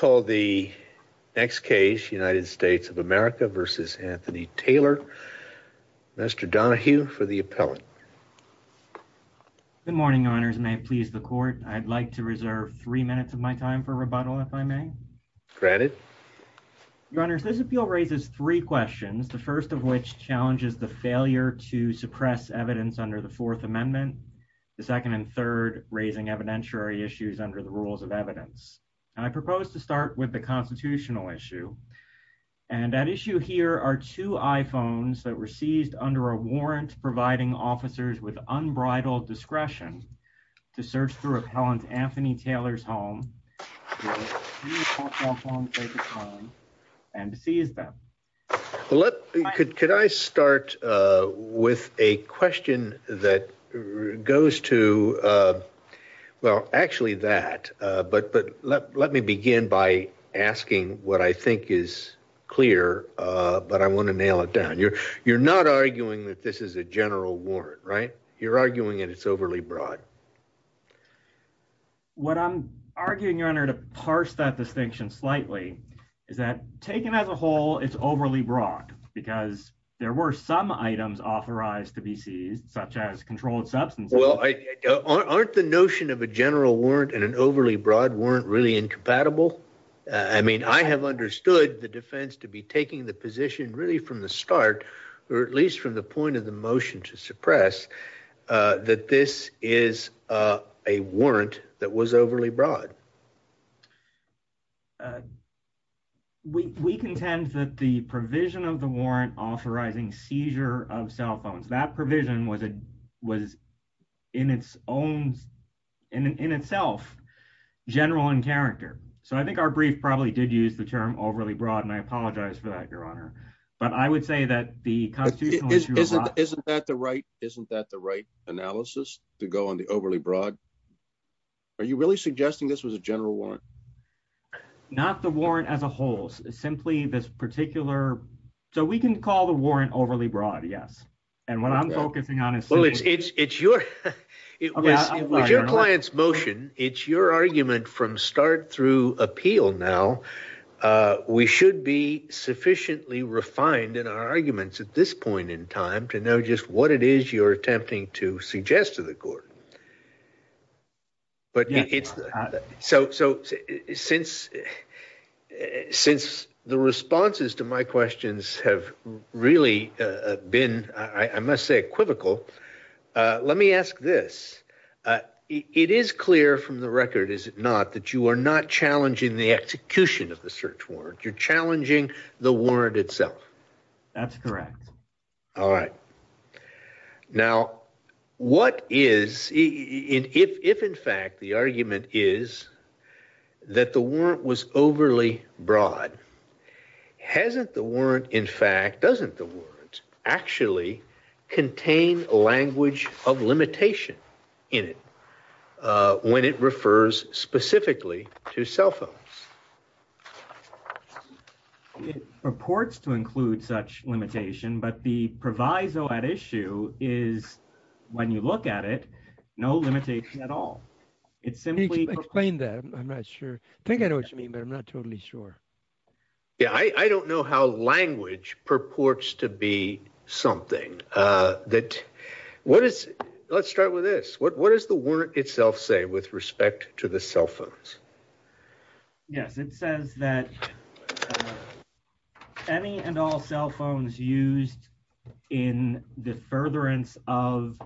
v. Anthony Taylor. Mr. Donahue for the appellant. Good morning, Your Honors. May it please the Court, I'd like to reserve three minutes of my time for rebuttal, if I may. Granted. Your Honors, this appeal raises three questions, the first of which challenges the failure to suppress evidence under the Fourth Amendment, the second and third, raising evidentiary issues under the rules of evidence. And I propose to start with the constitutional issue. And that issue here are two iPhones that were seized under a warrant, providing officers with unbridled discretion to search through appellant Anthony Taylor's home and seize them. Let me could could I start with a question that goes to. Well, actually, that but but let me begin by asking what I think is clear, but I want to nail it down. You're you're not arguing that this is a general warrant, right? You're arguing that it's overly broad. What I'm arguing, Your Honor, to parse that distinction slightly is that taken as a whole, it's overly broad because there were some items authorized to be seized, such as controlled substance. Well, aren't the notion of a general warrant and an overly broad weren't really incompatible. I mean, I have understood the defense to be taking the position really from the start, or at least from the point of the motion to suppress that this is a warrant that was overly broad. We contend that the provision of the warrant authorizing seizure of cell phones that provision was it was in its own in itself general in character. So I think our brief probably did use the term overly broad and I apologize for that, Your Honor, but I would say that the constitutional isn't that the right isn't that the right analysis to go on the overly broad. Are you really suggesting this was a general warrant? Not the warrant as a whole, simply this particular. So we can call the warrant overly broad. Yes. And what I'm focusing on is. Well, it's it's it's your it was your client's motion. It's your argument from start through appeal. Now, we should be sufficiently refined in our arguments at this point in time to know just what it is you're attempting to suggest to the court. But it's so. So since since the responses to my questions have really been, I must say, equivocal. Let me ask this. It is clear from the record. Is it not that you are not challenging the execution of the search warrant? You're challenging the warrant itself. That's correct. All right. Now, what is it? If in fact, the argument is that the warrant was overly broad, hasn't the warrant, in fact, doesn't the warrant actually contain a language of limitation in it when it refers specifically to cell phones? It purports to include such limitation, but the proviso at issue is when you look at it, no limitation at all. It's simply explain that. I'm not sure. I think I know what you mean, but I'm not totally sure. Yeah, I don't know how language purports to be something that what is. Let's start with this. What is the word itself say with respect to the cell phones? Yes, it says that any and all cell phones used in the furtherance of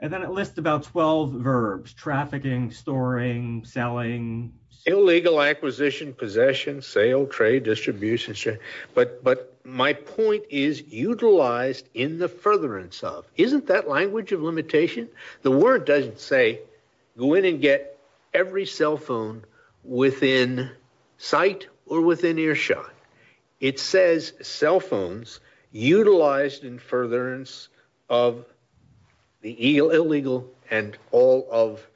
and then at least about 12 verbs trafficking, storing, selling, illegal acquisition, possession, sale, trade, distribution. But but my point is utilized in the furtherance of isn't that language of limitation? The word doesn't say go in and get every cell phone within sight or within earshot. It says cell phones utilized in furtherance of the illegal and all of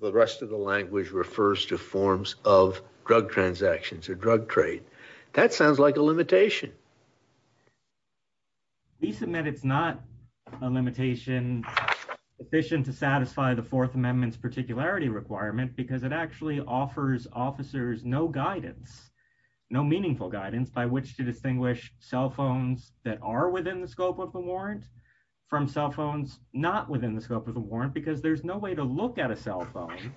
the rest of the language refers to forms of drug transactions or drug trade. That sounds like a limitation. We submit it's not a limitation efficient to satisfy the Fourth Amendment's particularity requirement because it actually offers officers no guidance, no meaningful guidance by which to distinguish cell phones that are within the scope of the warrant from cell phones, not within the scope of the warrant, because there's no way to look at a cell phone.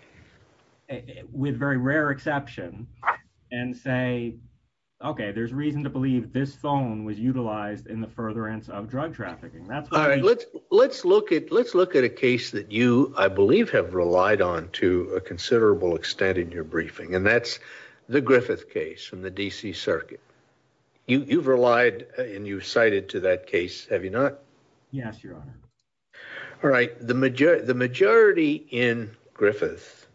With very rare exception and say, OK, there's reason to believe this phone was utilized in the furtherance of drug trafficking. That's all right. Let's let's look at let's look at a case that you, I believe, have relied on to a considerable extent in your briefing. And that's the Griffith case from the D.C. Circuit. You've relied and you cited to that case, have you not? Yes, your honor. All right. The majority the majority in Griffith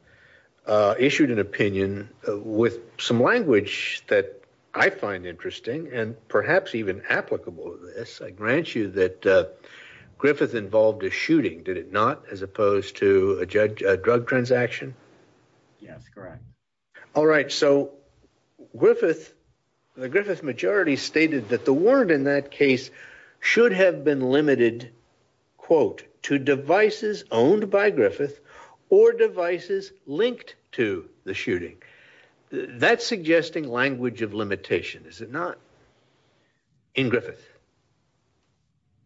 issued an opinion with some language that I find interesting and perhaps even applicable. Yes, I grant you that Griffith involved a shooting, did it not, as opposed to a drug transaction? Yes, correct. All right. So Griffith, the Griffith majority stated that the warrant in that case should have been limited, quote, to devices owned by Griffith or devices linked to the shooting. That's suggesting language of limitation, is it not? In Griffith.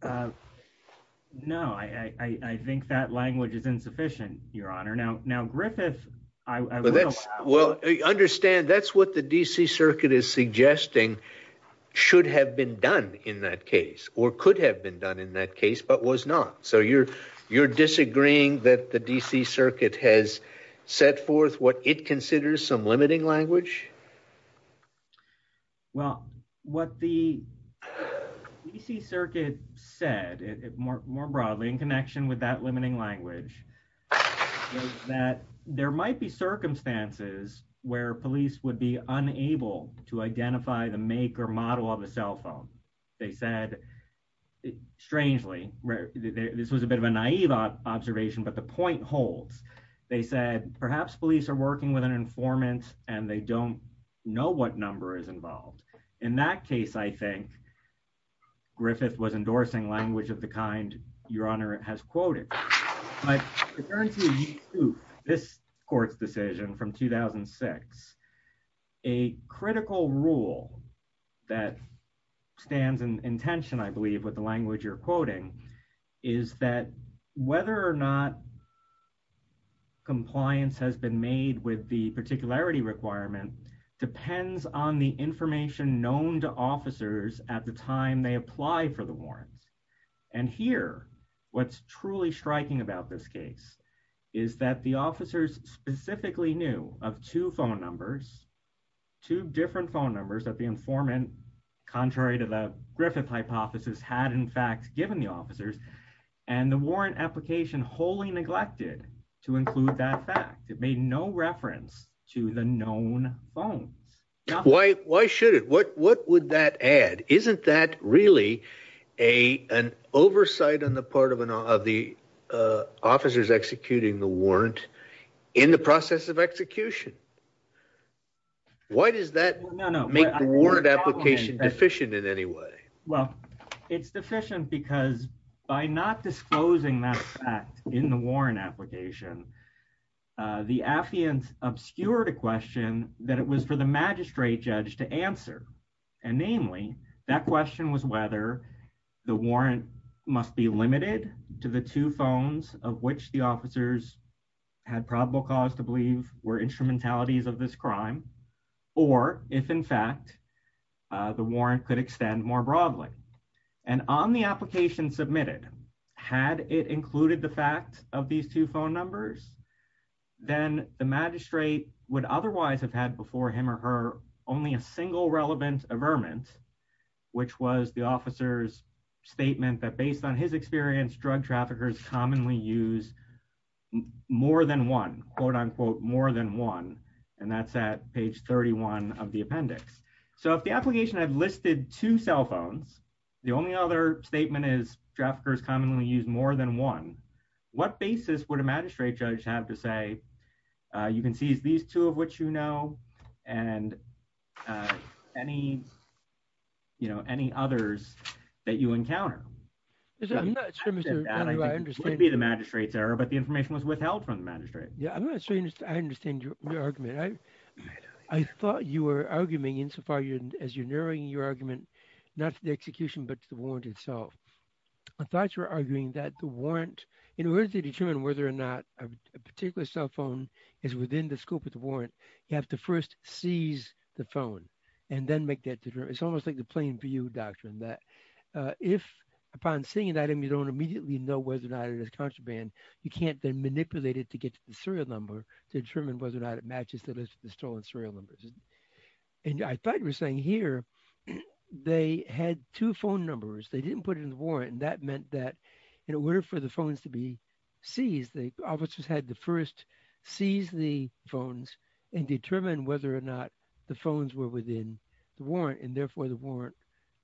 No, I think that language is insufficient, your honor. Now. Now, Griffith. Well, that's well understand. That's what the D.C. Circuit is suggesting should have been done in that case or could have been done in that case, but was not. So you're you're disagreeing that the D.C. Circuit has set forth what it considers some limiting language. Well, what the D.C. Circuit said more broadly in connection with that limiting language that there might be circumstances where police would be unable to identify the make or model of a cell phone. They said, strangely, this was a bit of a naive observation, but the point holds. They said perhaps police are working with an informant and they don't know what number is involved in that case. I think Griffith was endorsing language of the kind your honor has quoted. I turn to this court's decision from 2006. A critical rule that stands in tension, I believe, with the language you're quoting is that whether or not compliance has been made with the particularity requirement depends on the information known to officers at the time they apply for the warrant. And here, what's truly striking about this case is that the officers specifically knew of two phone numbers, two different phone numbers that the informant, contrary to the Griffith hypothesis, had in fact given the officers and the warrant application wholly neglected to include that fact. It made no reference to the known phones. Why, why should it what what would that add isn't that really a an oversight on the part of an of the officers executing the warrant in the process of execution. Why does that make the word application deficient in any way. Well, it's deficient because by not disclosing that fact in the warrant application. The affiance obscured a question that it was for the magistrate judge to answer. And namely, that question was whether the warrant must be limited to the two phones, of which the officers had probable cause to believe were instrumentalities of this crime, or, if in fact, the warrant could extend more broadly. And on the application submitted. Had it included the fact of these two phone numbers, then the magistrate would otherwise have had before him or her, only a single relevant averment, which was the officers statement that based on his experience drug traffickers commonly use more than one, quote unquote, more than one. And that's that page 31 of the appendix. So if the application I've listed two cell phones. The only other statement is traffickers commonly use more than one. What basis would a magistrate judge have to say, you can see these two of which you know, and any, you know, any others that you encounter. I understand the magistrates error, but the information was withheld from the magistrate. Yeah, I'm not sure I understand your argument. I, I thought you were arguing in so far as you're narrowing your argument, not the execution, but the warrant itself. I thought you were arguing that the warrant in order to determine whether or not a particular cell phone is within the scope of the warrant, you have to first seize the phone and then make that it's almost like the plain view doctrine that if upon seeing an item you don't immediately know whether or not it is contraband, you can't then manipulate it to get to the serial number to determine whether or not it matches the stolen serial numbers. And I thought you were saying here they had two phone numbers. They didn't put it in the warrant. And that meant that in order for the phones to be seized, the officers had the first seize the phones and determine whether or not the phones were within the warrant. And therefore, the warrant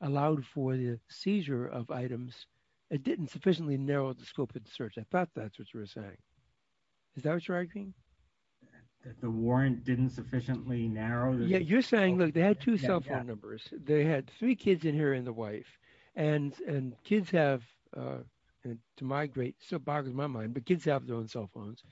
allowed for the seizure of items. It didn't sufficiently narrow the scope of the search. I thought that's what you were saying. Is that what you're arguing? That the warrant didn't sufficiently narrow the scope of the search. Yeah, you're saying, look, they had two cell phone numbers. They had three kids in here and the wife. And, and kids have, to my great, still boggles my mind, but kids have their own cell phones.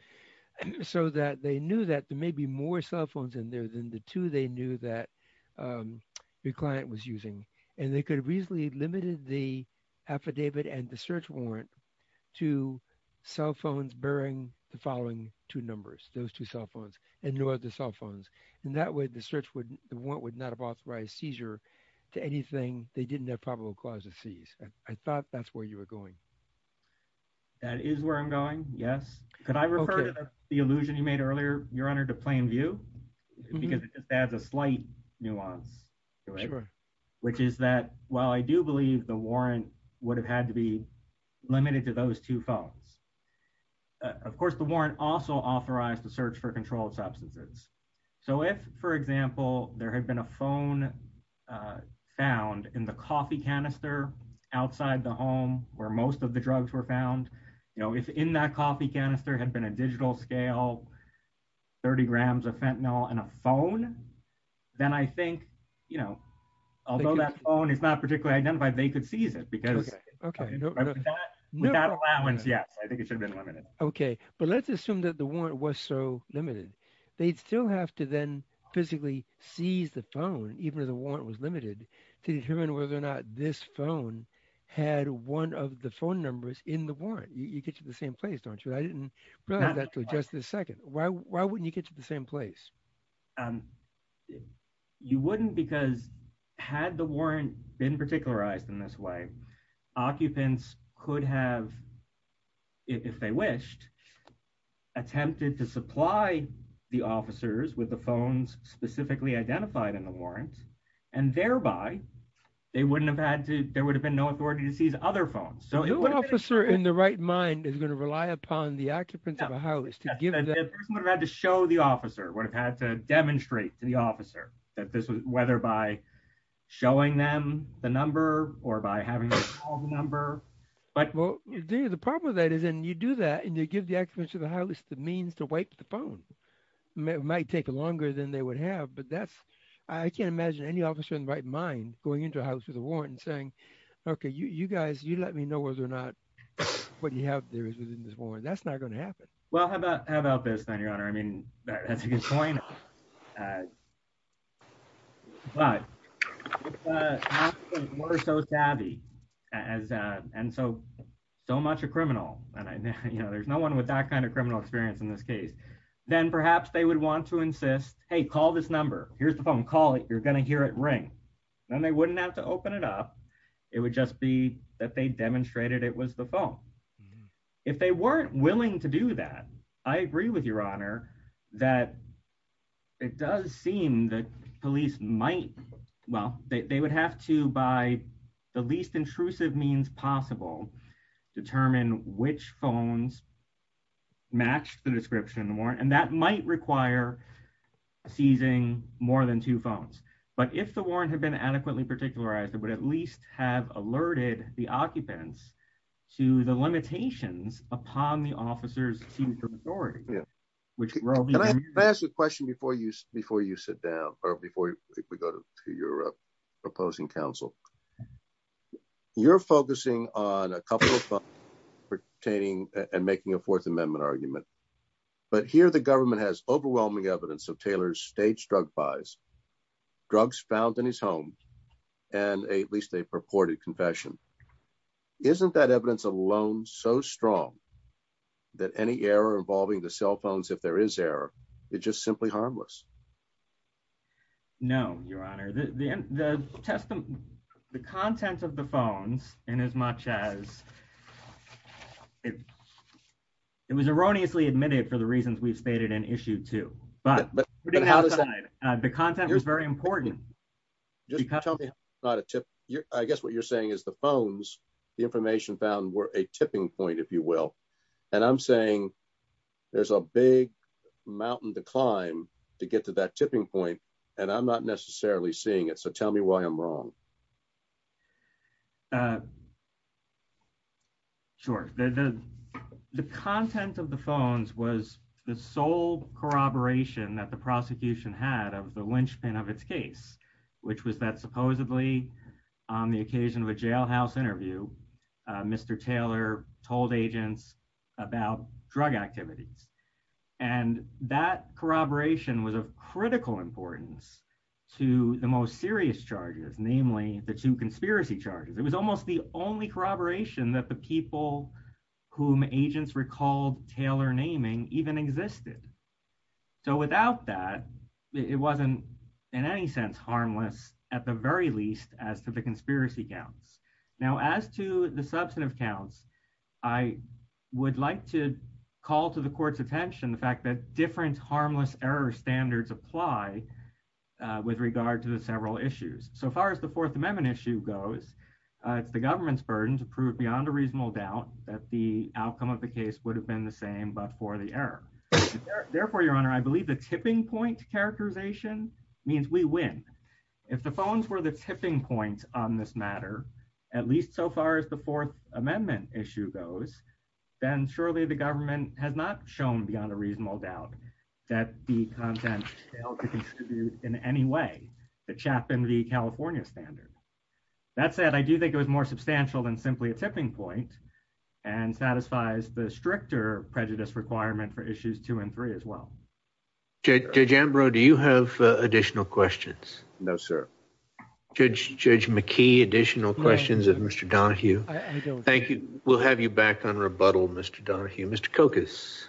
So that they knew that there may be more cell phones in there than the two they knew that the client was using. And they could have reasonably limited the affidavit and the search warrant to cell phones bearing the following two numbers, those two cell phones and no other cell phones. In that way, the search would, the warrant would not have authorized seizure to anything. They didn't have probable cause of seize. I thought that's where you were going. That is where I'm going. Yes. Could I refer to the illusion you made earlier, Your Honor, to plain view? Because it adds a slight nuance. Which is that while I do believe the warrant would have had to be limited to those two phones. Of course, the warrant also authorized the search for controlled substances. So if, for example, there had been a phone found in the coffee canister outside the home where most of the drugs were found, you know, if in that coffee canister had been a digital scale, 30 grams of fentanyl and a phone, then I think, you know, although that phone is not particularly identified, they could seize it because Without allowance, yes, I think it should have been limited. Okay, but let's assume that the warrant was so limited. They'd still have to then physically seize the phone, even if the warrant was limited, to determine whether or not this phone had one of the phone numbers in the warrant. You get to the same place, don't you? I didn't realize that until just a second. Why wouldn't you get to the same place? You wouldn't because had the warrant been particularized in this way, occupants could have, if they wished, attempted to supply the officers with the phones specifically identified in the warrant, and thereby, they wouldn't have had to, there would have been no authority to seize other phones. No officer in the right mind is going to rely upon the occupants of a house to give them. The person would have had to show the officer, would have had to demonstrate to the officer that this was, whether by showing them the number or by having them call the number. Well, the problem with that is, and you do that, and you give the occupants of the house the means to wipe the phone. It might take longer than they would have, but that's, I can't imagine any officer in the right mind going into a house with a warrant and saying, okay, you guys, you let me know whether or not what you have there is within this warrant. That's not going to happen. Well, how about this then, Your Honor? I mean, that's a good point. But if the occupants were so savvy, and so much a criminal, and there's no one with that kind of criminal experience in this case, then perhaps they would want to insist, hey, call this number, here's the phone, call it, you're going to hear it ring. Then they wouldn't have to open it up. It would just be that they demonstrated it was the phone. If they weren't willing to do that, I agree with Your Honor, that it does seem that police might, well, they would have to, by the least intrusive means possible, determine which phones matched the description of the warrant, and that might require seizing more than two phones. But if the warrant had been adequately particularized, it would at least have alerted the occupants to the limitations upon the officer's team for authority. Can I ask a question before you sit down, or before we go to your opposing counsel? You're focusing on a couple of things pertaining and making a Fourth Amendment argument. But here the government has overwhelming evidence of Taylor's staged drug buys, drugs found in his home, and at least a purported confession. Isn't that evidence alone so strong that any error involving the cell phones, if there is error, is just simply harmless? No, Your Honor. The content of the phones, inasmuch as it was erroneously admitted for the reasons we've stated in issue two, but the content was very important. I guess what you're saying is the phones, the information found, were a tipping point, if you will. And I'm saying there's a big mountain to climb to get to that tipping point, and I'm not necessarily seeing it, so tell me why I'm wrong. Sure. The content of the phones was the sole corroboration that the prosecution had of the linchpin of its case, which was that supposedly, on the occasion of a jailhouse interview, Mr. Taylor told agents about drug activities. And that corroboration was of critical importance to the most serious charges, namely the two conspiracy charges. It was almost the only corroboration that the people whom agents recalled Taylor naming even existed. So without that, it wasn't in any sense harmless, at the very least, as to the conspiracy counts. Now, as to the substantive counts, I would like to call to the Court's attention the fact that different harmless error standards apply with regard to the several issues. So far as the Fourth Amendment issue goes, it's the government's burden to prove beyond a reasonable doubt that the outcome of the case would have been the same but for the error. Therefore, Your Honor, I believe the tipping point characterization means we win. If the phones were the tipping point on this matter, at least so far as the Fourth Amendment issue goes, then surely the government has not shown beyond a reasonable doubt that the content in any way, the Chapman v. California standard. That said, I do think it was more substantial than simply a tipping point and satisfies the stricter prejudice requirement for issues two and three as well. Judge Ambrose, do you have additional questions? No, sir. Judge McKee, additional questions of Mr. Donahue? Thank you. We'll have you back on rebuttal, Mr. Donahue. Mr. Kokas?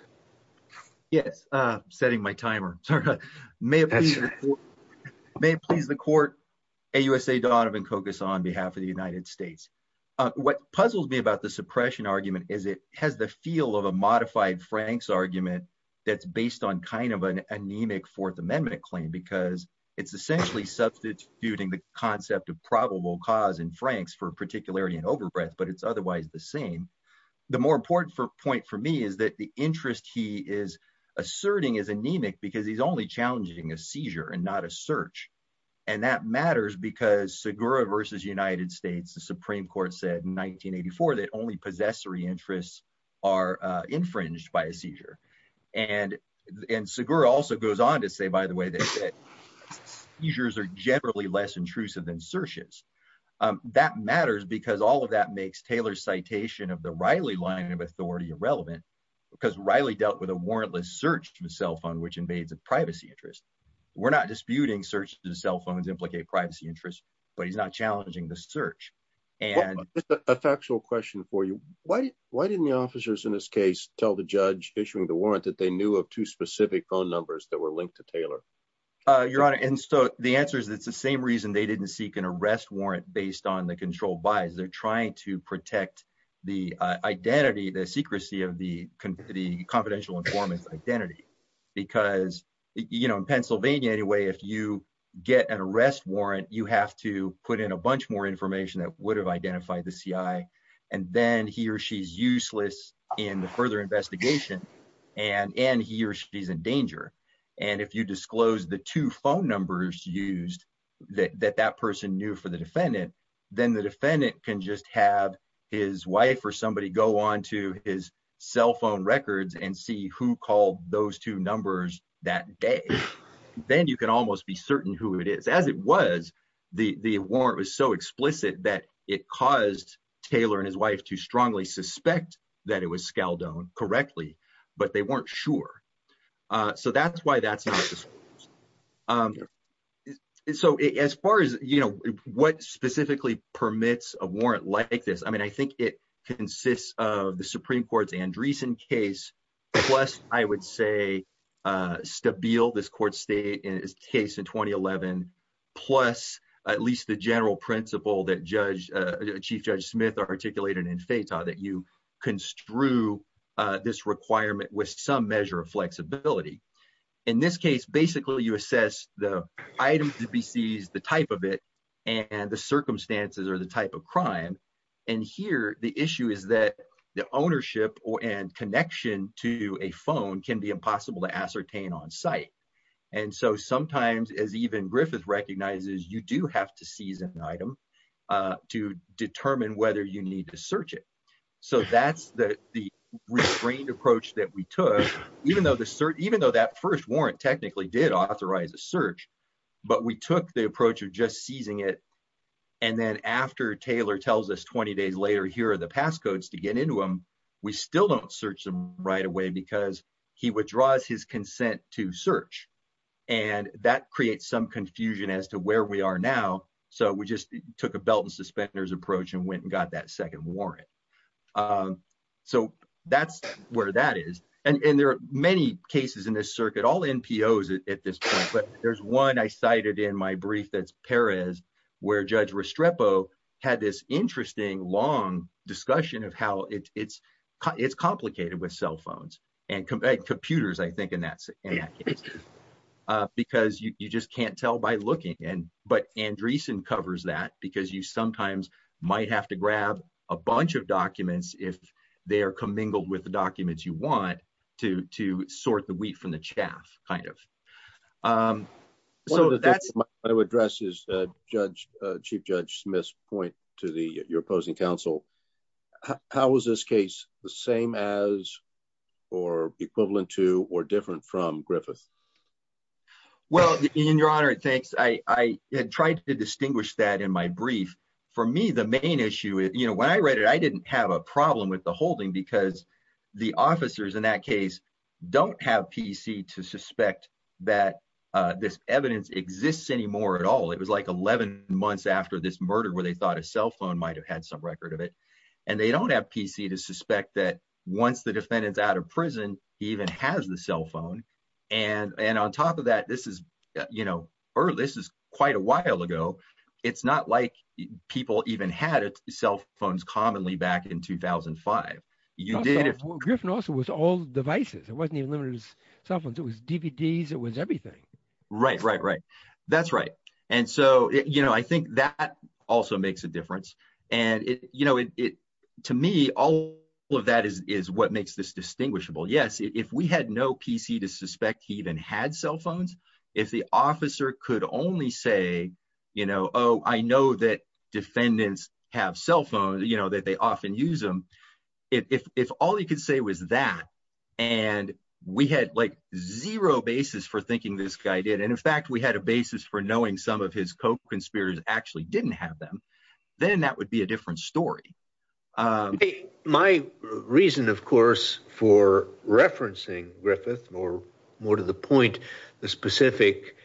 Yes, I'm setting my timer. May it please the Court, AUSA Donovan Kokas on behalf of the United States. What puzzles me about the suppression argument is it has the feel of a modified Frank's argument that's based on kind of an anemic Fourth Amendment claim because it's essentially substituting the concept of probable cause in Frank's for particularity and overbreath, but it's otherwise the same. The more important point for me is that the interest he is asserting is anemic because he's only challenging a seizure and not a search. And that matters because Segura versus United States, the Supreme Court said in 1984 that only possessory interests are infringed by a seizure. And Segura also goes on to say, by the way, that seizures are generally less intrusive than searches. That matters because all of that makes Taylor's citation of the Reilly line of authority irrelevant because Reilly dealt with a warrantless search to a cell phone, which invades a privacy interest. We're not disputing searches to cell phones implicate privacy interests, but he's not challenging the search. And a factual question for you. Why? Why didn't the officers in this case tell the judge issuing the warrant that they knew of two specific phone numbers that were linked to Taylor? Your Honor, and so the answer is it's the same reason they didn't seek an arrest warrant based on the control buys. They're trying to protect the identity, the secrecy of the confidential informants identity, because, you know, in Pennsylvania, anyway, if you get an arrest warrant, you have to put in a bunch more information that would have identified the CIA. And then he or she's useless in the further investigation and he or she's in danger. And if you disclose the two phone numbers used that that person knew for the defendant, then the defendant can just have his wife or somebody go on to his cell phone records and see who called those two numbers that day. Then you can almost be certain who it is, as it was, the warrant was so explicit that it caused Taylor and his wife to strongly suspect that it was Skeldone correctly, but they weren't sure. So that's why that's. So, as far as, you know, what specifically permits a warrant like this, I mean, I think it consists of the Supreme Court's Andreessen case. Plus, I would say, Stabile, this court state is case in 2011, plus at least the general principle that judge Chief Judge Smith articulated in faith that you construe this requirement with some measure of flexibility. In this case, basically, you assess the items to be seized, the type of it and the circumstances or the type of crime. And here the issue is that the ownership and connection to a phone can be impossible to ascertain on site. And so sometimes, as even Griffith recognizes, you do have to seize an item to determine whether you need to search it. So that's the restrained approach that we took, even though the search, even though that first warrant technically did authorize a search. But we took the approach of just seizing it. And then after Taylor tells us 20 days later, here are the passcodes to get into him. We still don't search them right away because he withdraws his consent to search. And that creates some confusion as to where we are now. So we just took a belt and suspenders approach and went and got that second warrant. So that's where that is. And there are many cases in this circuit, all NPOs at this point. But there's one I cited in my brief. That's Paris, where Judge Restrepo had this interesting, long discussion of how it's it's complicated with cell phones and computers, I think. Because you just can't tell by looking. And but Andreessen covers that because you sometimes might have to grab a bunch of documents if they are commingled with the documents you want to to sort the wheat from the chaff kind of. So that's what I would address is Judge Chief Judge Smith's point to the opposing counsel. How is this case the same as or equivalent to or different from Griffith? Well, in your honor, thanks. I tried to distinguish that in my brief. For me, the main issue is, you know, when I read it, I didn't have a problem with the holding because the officers in that case don't have PC to suspect that this evidence exists anymore at all. It was like 11 months after this murder where they thought a cell phone might have had some record of it. And they don't have PC to suspect that once the defendant's out of prison, he even has the cell phone. And and on top of that, this is, you know, or this is quite a while ago. It's not like people even had cell phones commonly back in 2005. You did it. Griffin also was all devices. It wasn't even limited to cell phones. It was DVDs. It was everything. Right, right, right. That's right. And so, you know, I think that also makes a difference. And, you know, to me, all of that is what makes this distinguishable. Yes. If we had no PC to suspect, he even had cell phones. If the officer could only say, you know, oh, I know that defendants have cell phones, you know, that they often use them. If all you could say was that and we had like zero basis for thinking this guy did. And in fact, we had a basis for knowing some of his co-conspirators actually didn't have them. Then that would be a different story. My reason, of course, for referencing Griffith or more to the point, the specific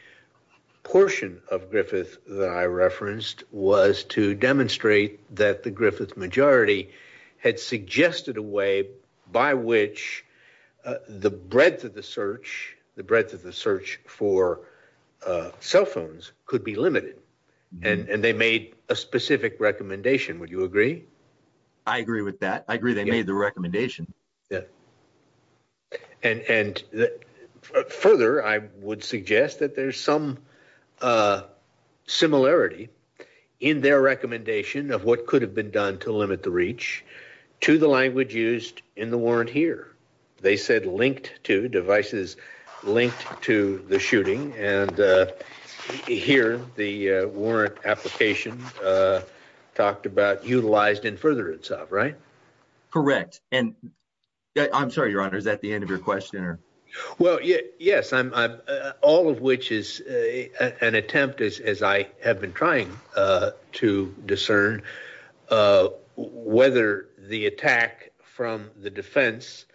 portion of Griffith that I referenced was to demonstrate that the Griffith majority had suggested a way by which the breadth of the search, the breadth of the search for cell phones could be limited. And they made a specific recommendation. Would you agree? I agree with that. I agree they made the recommendation. Yeah. And further, I would suggest that there's some similarity in their recommendation of what could have been done to limit the reach to the language used in the warrant here. They said linked to devices linked to the shooting. And here the warrant application talked about utilized in further itself. Right. Correct. And I'm sorry, Your Honor, is that the end of your question? Well, yes. I'm all of which is an attempt, as I have been trying to discern whether the attack from the defense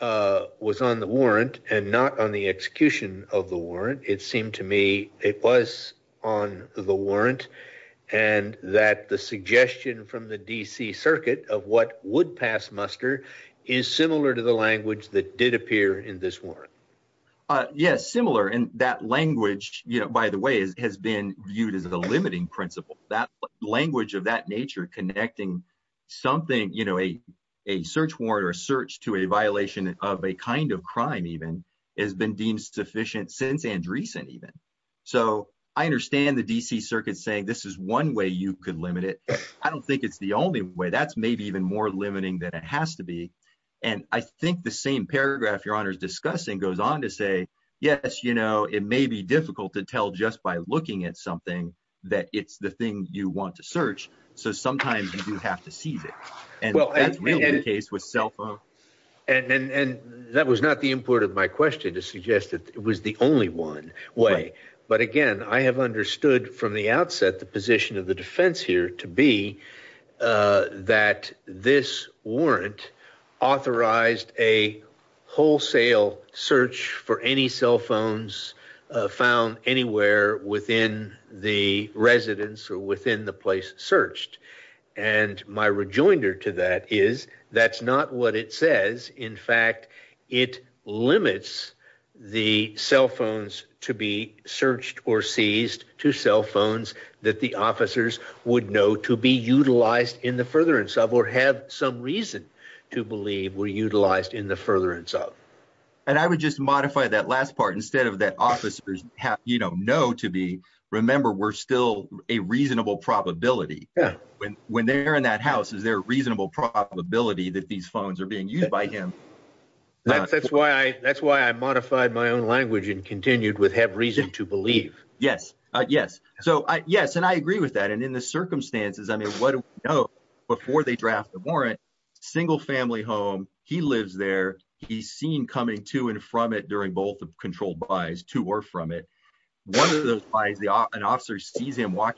was on the warrant and not on the execution of the warrant. It seemed to me it was on the warrant and that the suggestion from the D.C. circuit of what would pass muster is similar to the language that did appear in this warrant. Yes, similar. And that language, by the way, has been viewed as a limiting principle. That language of that nature connecting something, you know, a search warrant or a search to a violation of a kind of crime even has been deemed sufficient since Andreessen even. So I understand the D.C. circuit saying this is one way you could limit it. I don't think it's the only way that's maybe even more limiting than it has to be. And I think the same paragraph your honor's discussing goes on to say, yes, you know, it may be difficult to tell just by looking at something that it's the thing you want to search. So sometimes you do have to seize it. And that's really the case with cell phone. And that was not the import of my question to suggest that it was the only one way. But again, I have understood from the outset the position of the defense here to be that this warrant authorized a wholesale search for any cell phones found anywhere within the residence or within the place searched. And my rejoinder to that is that's not what it says. In fact, it limits the cell phones to be searched or seized to cell phones that the officers would know to be utilized in the furtherance of or have some reason to believe were utilized in the furtherance of. And I would just modify that last part instead of that officers know to be. Remember, we're still a reasonable probability when they're in that house. Is there a reasonable probability that these phones are being used by him? That's why I that's why I modified my own language and continued with have reason to believe. Yes. Yes. So, yes. And I agree with that. And in the circumstances, I mean, what do we know before they draft the warrant? Single family home. He lives there. He's seen coming to and from it during both of controlled buys to or from it. OK, let me let me ask.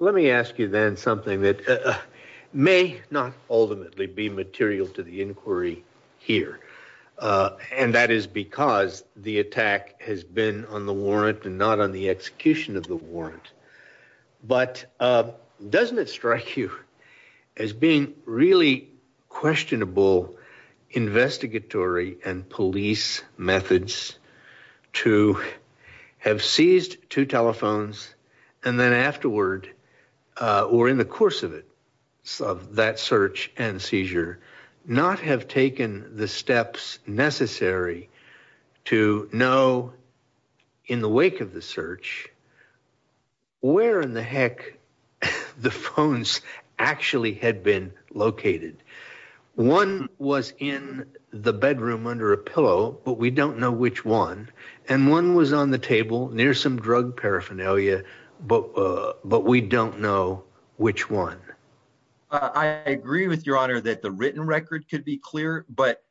Let me ask you then something that may not ultimately be material to the inquiry here. And that is because the attack has been on the warrant and not on the execution of the warrant. But doesn't it strike you as being really questionable investigatory and police methods to have seized two telephones? And then afterward or in the course of it, some of that search and seizure not have taken the steps necessary to know in the wake of the search where in the heck the phones actually had been located. One was in the bedroom under a pillow, but we don't know which one. And one was on the table near some drug paraphernalia. But but we don't know which one. I agree with your honor that the written record could be clear. But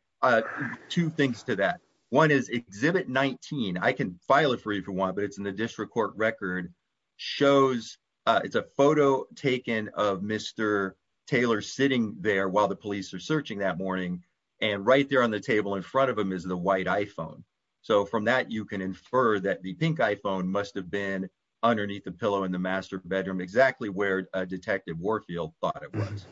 two things to that. One is Exhibit 19. I can file it for you for one, but it's in the district court record shows it's a photo taken of Mr. Taylor sitting there while the police are searching that morning. And right there on the table in front of him is the white iPhone. So from that, you can infer that the pink iPhone must have been underneath the pillow in the master bedroom, exactly where Detective Warfield thought it was.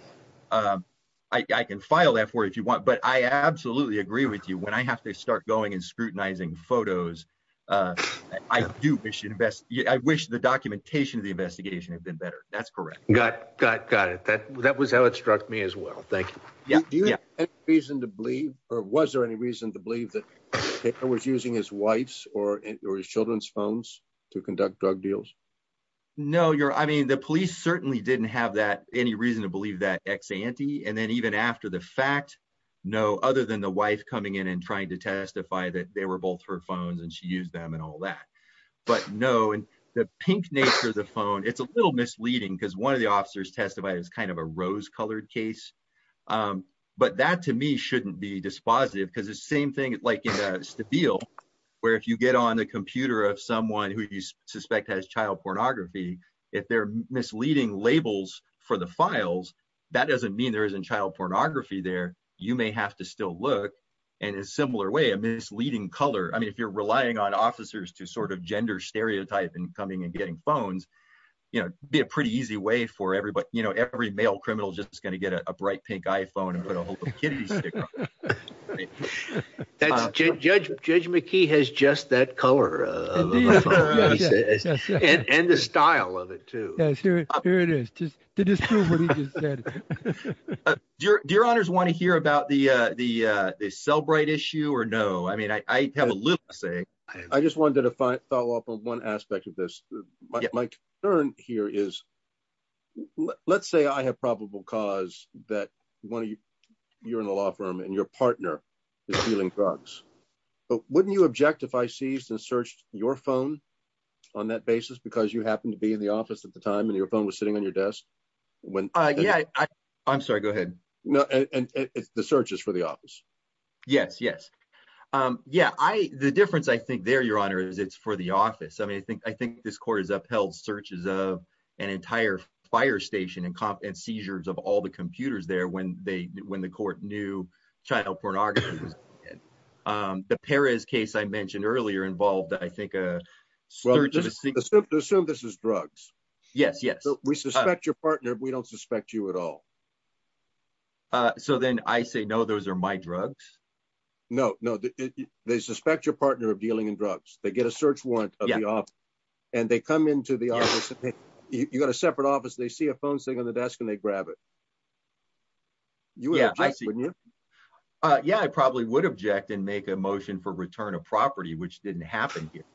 I can file that for if you want, but I absolutely agree with you when I have to start going and scrutinizing photos. I do wish you the best. I wish the documentation of the investigation had been better. That's correct. Got got got it. That that was how it struck me as well. Thank you. Yeah. Do you have a reason to believe or was there any reason to believe that I was using his wife's or his children's phones to conduct drug deals? No, you're I mean, the police certainly didn't have that any reason to believe that ex ante. And then even after the fact, no, other than the wife coming in and trying to testify that they were both her phones and she used them and all that. But no. And the pink nature of the phone, it's a little misleading because one of the officers testified is kind of a rose colored case. But that, to me, shouldn't be dispositive because the same thing like in the deal, where if you get on the computer of someone who you suspect has child pornography, if they're misleading labels for the files, that doesn't mean there isn't child pornography there. You may have to still look and in a similar way, a misleading color. I mean, if you're relying on officers to sort of gender stereotype and coming and getting phones, you know, be a pretty easy way for everybody. You know, every male criminal just is going to get a bright pink iPhone and put a whole bunch of kids. Judge, Judge McKee has just that color. And the style of it, too. Yes, here it is. Dear, dear honors want to hear about the, the cell bright issue or no I mean I have a little saying, I just wanted to follow up on one aspect of this. My turn here is, let's say I have probable cause that one of you. You're in a law firm and your partner is dealing drugs. But wouldn't you object if I seized and searched your phone. On that basis because you happen to be in the office at the time and your phone was sitting on your desk. When I'm sorry, go ahead. No, and the searches for the office. Yes, yes. Yeah, I, the difference I think they're your honor is it's for the office I mean I think I think this court is upheld searches of an entire fire station and competent seizures of all the computers there when they when the court knew child pornography. The Paris case I mentioned earlier involved I think. So this is drugs. Yes, yes, we suspect your partner we don't suspect you at all. So then I say no those are my drugs. No, no. They suspect your partner of dealing in drugs, they get a search warrant. And they come into the office. You got a separate office they see a phone sitting on the desk and they grab it. Yeah. Yeah, I probably would object and make a motion for return of property which didn't happen here.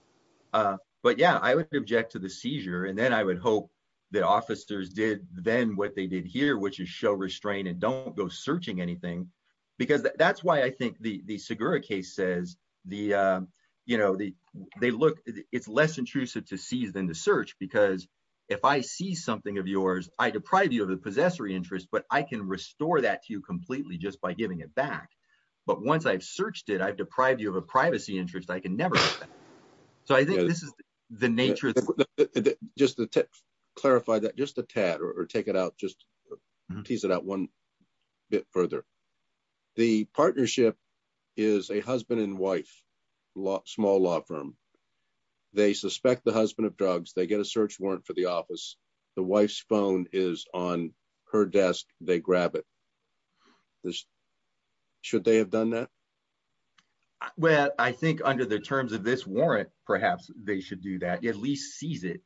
But yeah, I would object to the seizure and then I would hope that officers did, then what they did here which is show restraint and don't go searching anything, because that's why I think the the cigar case says the, you know, the, they look, it's less intrusive to seize than the search because if I see something of yours, I deprive you of the possessory interest but I can restore that to you completely just by giving it back. But once I've searched it I've deprived you of a privacy interest I can never. So I think this is the nature. Just to clarify that just a tad or take it out just tease it out one bit further. The partnership is a husband and wife lot small law firm. They suspect the husband of drugs they get a search warrant for the office. The wife's phone is on her desk, they grab it. Should they have done that. Well, I think under the terms of this warrant, perhaps they should do that at least seize it.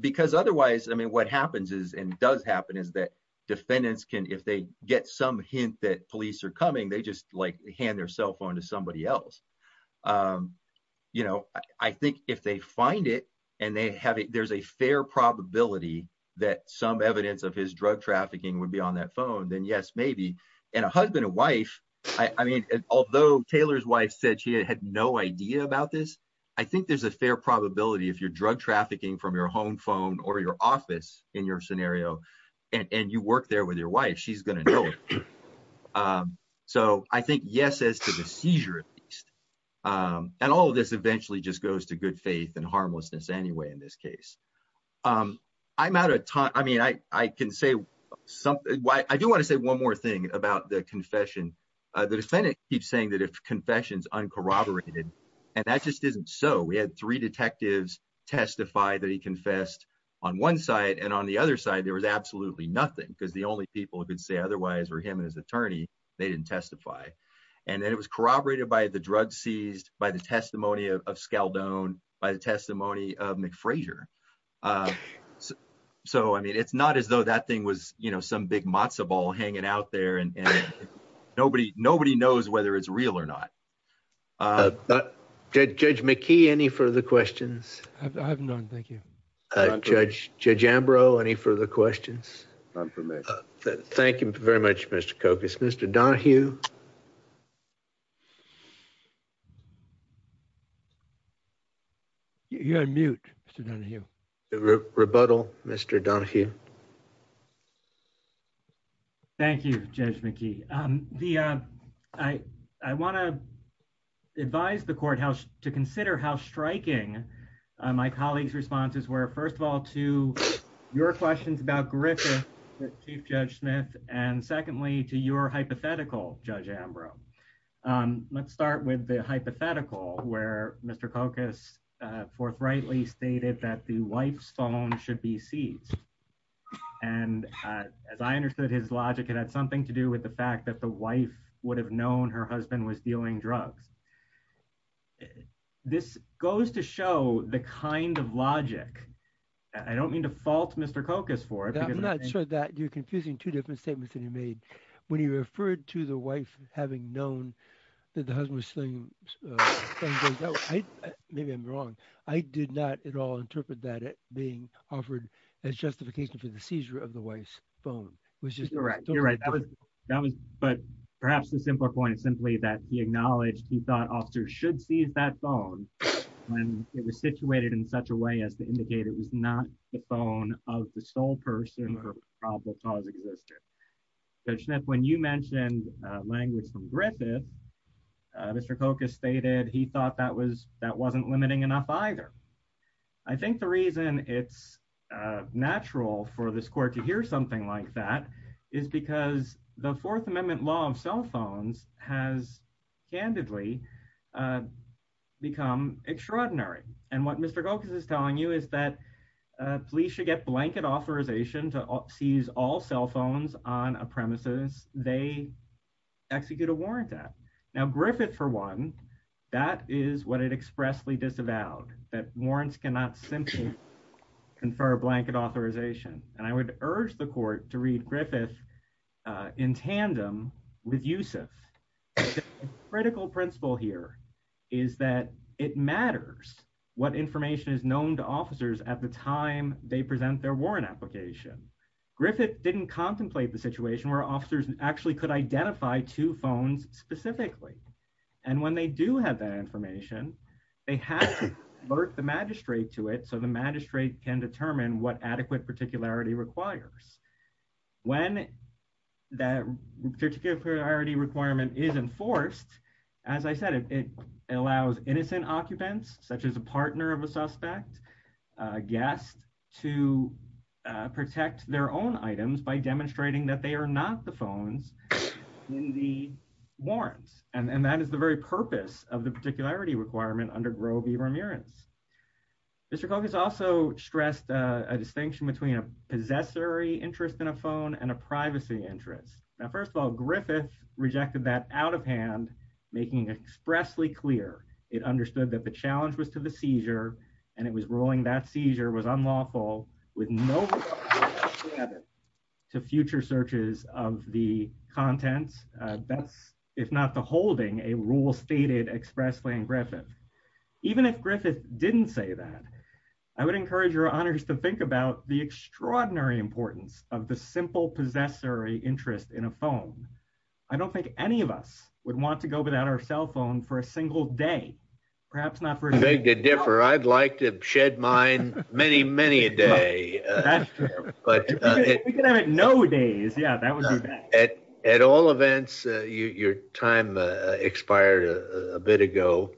Because otherwise I mean what happens is and does happen is that defendants can if they get some hint that police are coming they just like hand their cell phone to somebody else. You know, I think if they find it, and they have it there's a fair probability that some evidence of his drug trafficking would be on that phone then yes maybe, and a husband and wife. I mean, although Taylor's wife said she had no idea about this. I think there's a fair probability if your drug trafficking from your home phone or your office in your scenario, and you work there with your wife she's going to know. So, I think yes as to the seizure. And all of this eventually just goes to good faith and harmlessness anyway in this case. I'm out of time, I mean I can say something why I do want to say one more thing about the confession. The defendant keeps saying that if confessions uncorroborated. And that just isn't so we had three detectives testify that he confessed on one side and on the other side there was absolutely nothing because the only people who could say otherwise for him and his attorney, they didn't testify. And then it was corroborated by the drug seized by the testimony of scale down by the testimony of McPhrazer. So I mean it's not as though that thing was, you know, some big matzo ball hanging out there and nobody, nobody knows whether it's real or not. But, Judge McKee any further questions. I haven't done. Thank you. Judge, Judge Ambrose any further questions. Thank you very much, Mr. Cocus Mr. Donahue. You're on mute. Rebuttal, Mr. Donahue. Thank you, Judge McKee, the, I, I want to advise the courthouse to consider how striking my colleagues responses were first of all to your questions about Griffin, Chief Judge Smith, and secondly to your hypothetical judge Ambrose. Let's start with the hypothetical where Mr Cocos forthrightly stated that the wife's phone should be seized. And as I understood his logic it had something to do with the fact that the wife would have known her husband was dealing drugs. This goes to show the kind of logic. I don't mean to fault Mr Cocos for it. I'm not sure that you're confusing two different statements that he made when he referred to the wife, having known that the husband was saying, maybe I'm wrong. I did not at all interpret that it being offered as justification for the seizure of the wife's phone, which is correct. That was, that was, but perhaps the simpler point is simply that he acknowledged he thought officers should see that phone, when it was situated in such a way as to indicate it was not the phone of the sole person or probable cause existed. When you mentioned language from Griffith. Mr Cocos stated he thought that was that wasn't limiting enough either. I think the reason it's natural for this court to hear something like that is because the Fourth Amendment law of cell phones has candidly become extraordinary. And what Mr Gokas is telling you is that police should get blanket authorization to seize all cell phones on a premises, they execute a warrant that now Griffith for one. That is what it expressly disavowed that warrants cannot simply confer blanket authorization, and I would urge the court to read Griffith. In tandem with use of critical principle here is that it matters what information is known to officers at the time, they present their warrant application. Griffith didn't contemplate the situation where officers actually could identify two phones, specifically. And when they do have that information. They have to work the magistrate to it so the magistrate can determine what adequate particularity requires. When that particular priority requirement is enforced. As I said, it allows innocent occupants, such as a partner of a suspect guest to protect their own items by demonstrating that they are not the phones in the warrants, and that is the very purpose of the particularity requirement under grobey remunerants. Mr Gokas also stressed a distinction between a possessory interest in a phone and a privacy interest. Now first of all Griffith rejected that out of hand, making expressly clear, it understood that the challenge was to the seizure, and it was rolling that seizure was unlawful, with no credit to future searches of the contents. That's, if not the holding a rule stated expressly and Griffith. Even if Griffith didn't say that I would encourage your honors to think about the extraordinary importance of the simple possessory interest in a phone. I don't think any of us would want to go without our cell phone for a single day, perhaps not for a day to differ I'd like to shed mine, many, many a day. No days. Yeah, that was at all events, your time expired a bit ago.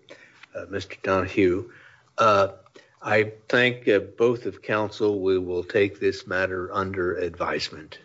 Mr Donahue. I think both of counsel we will take this matter under advisement.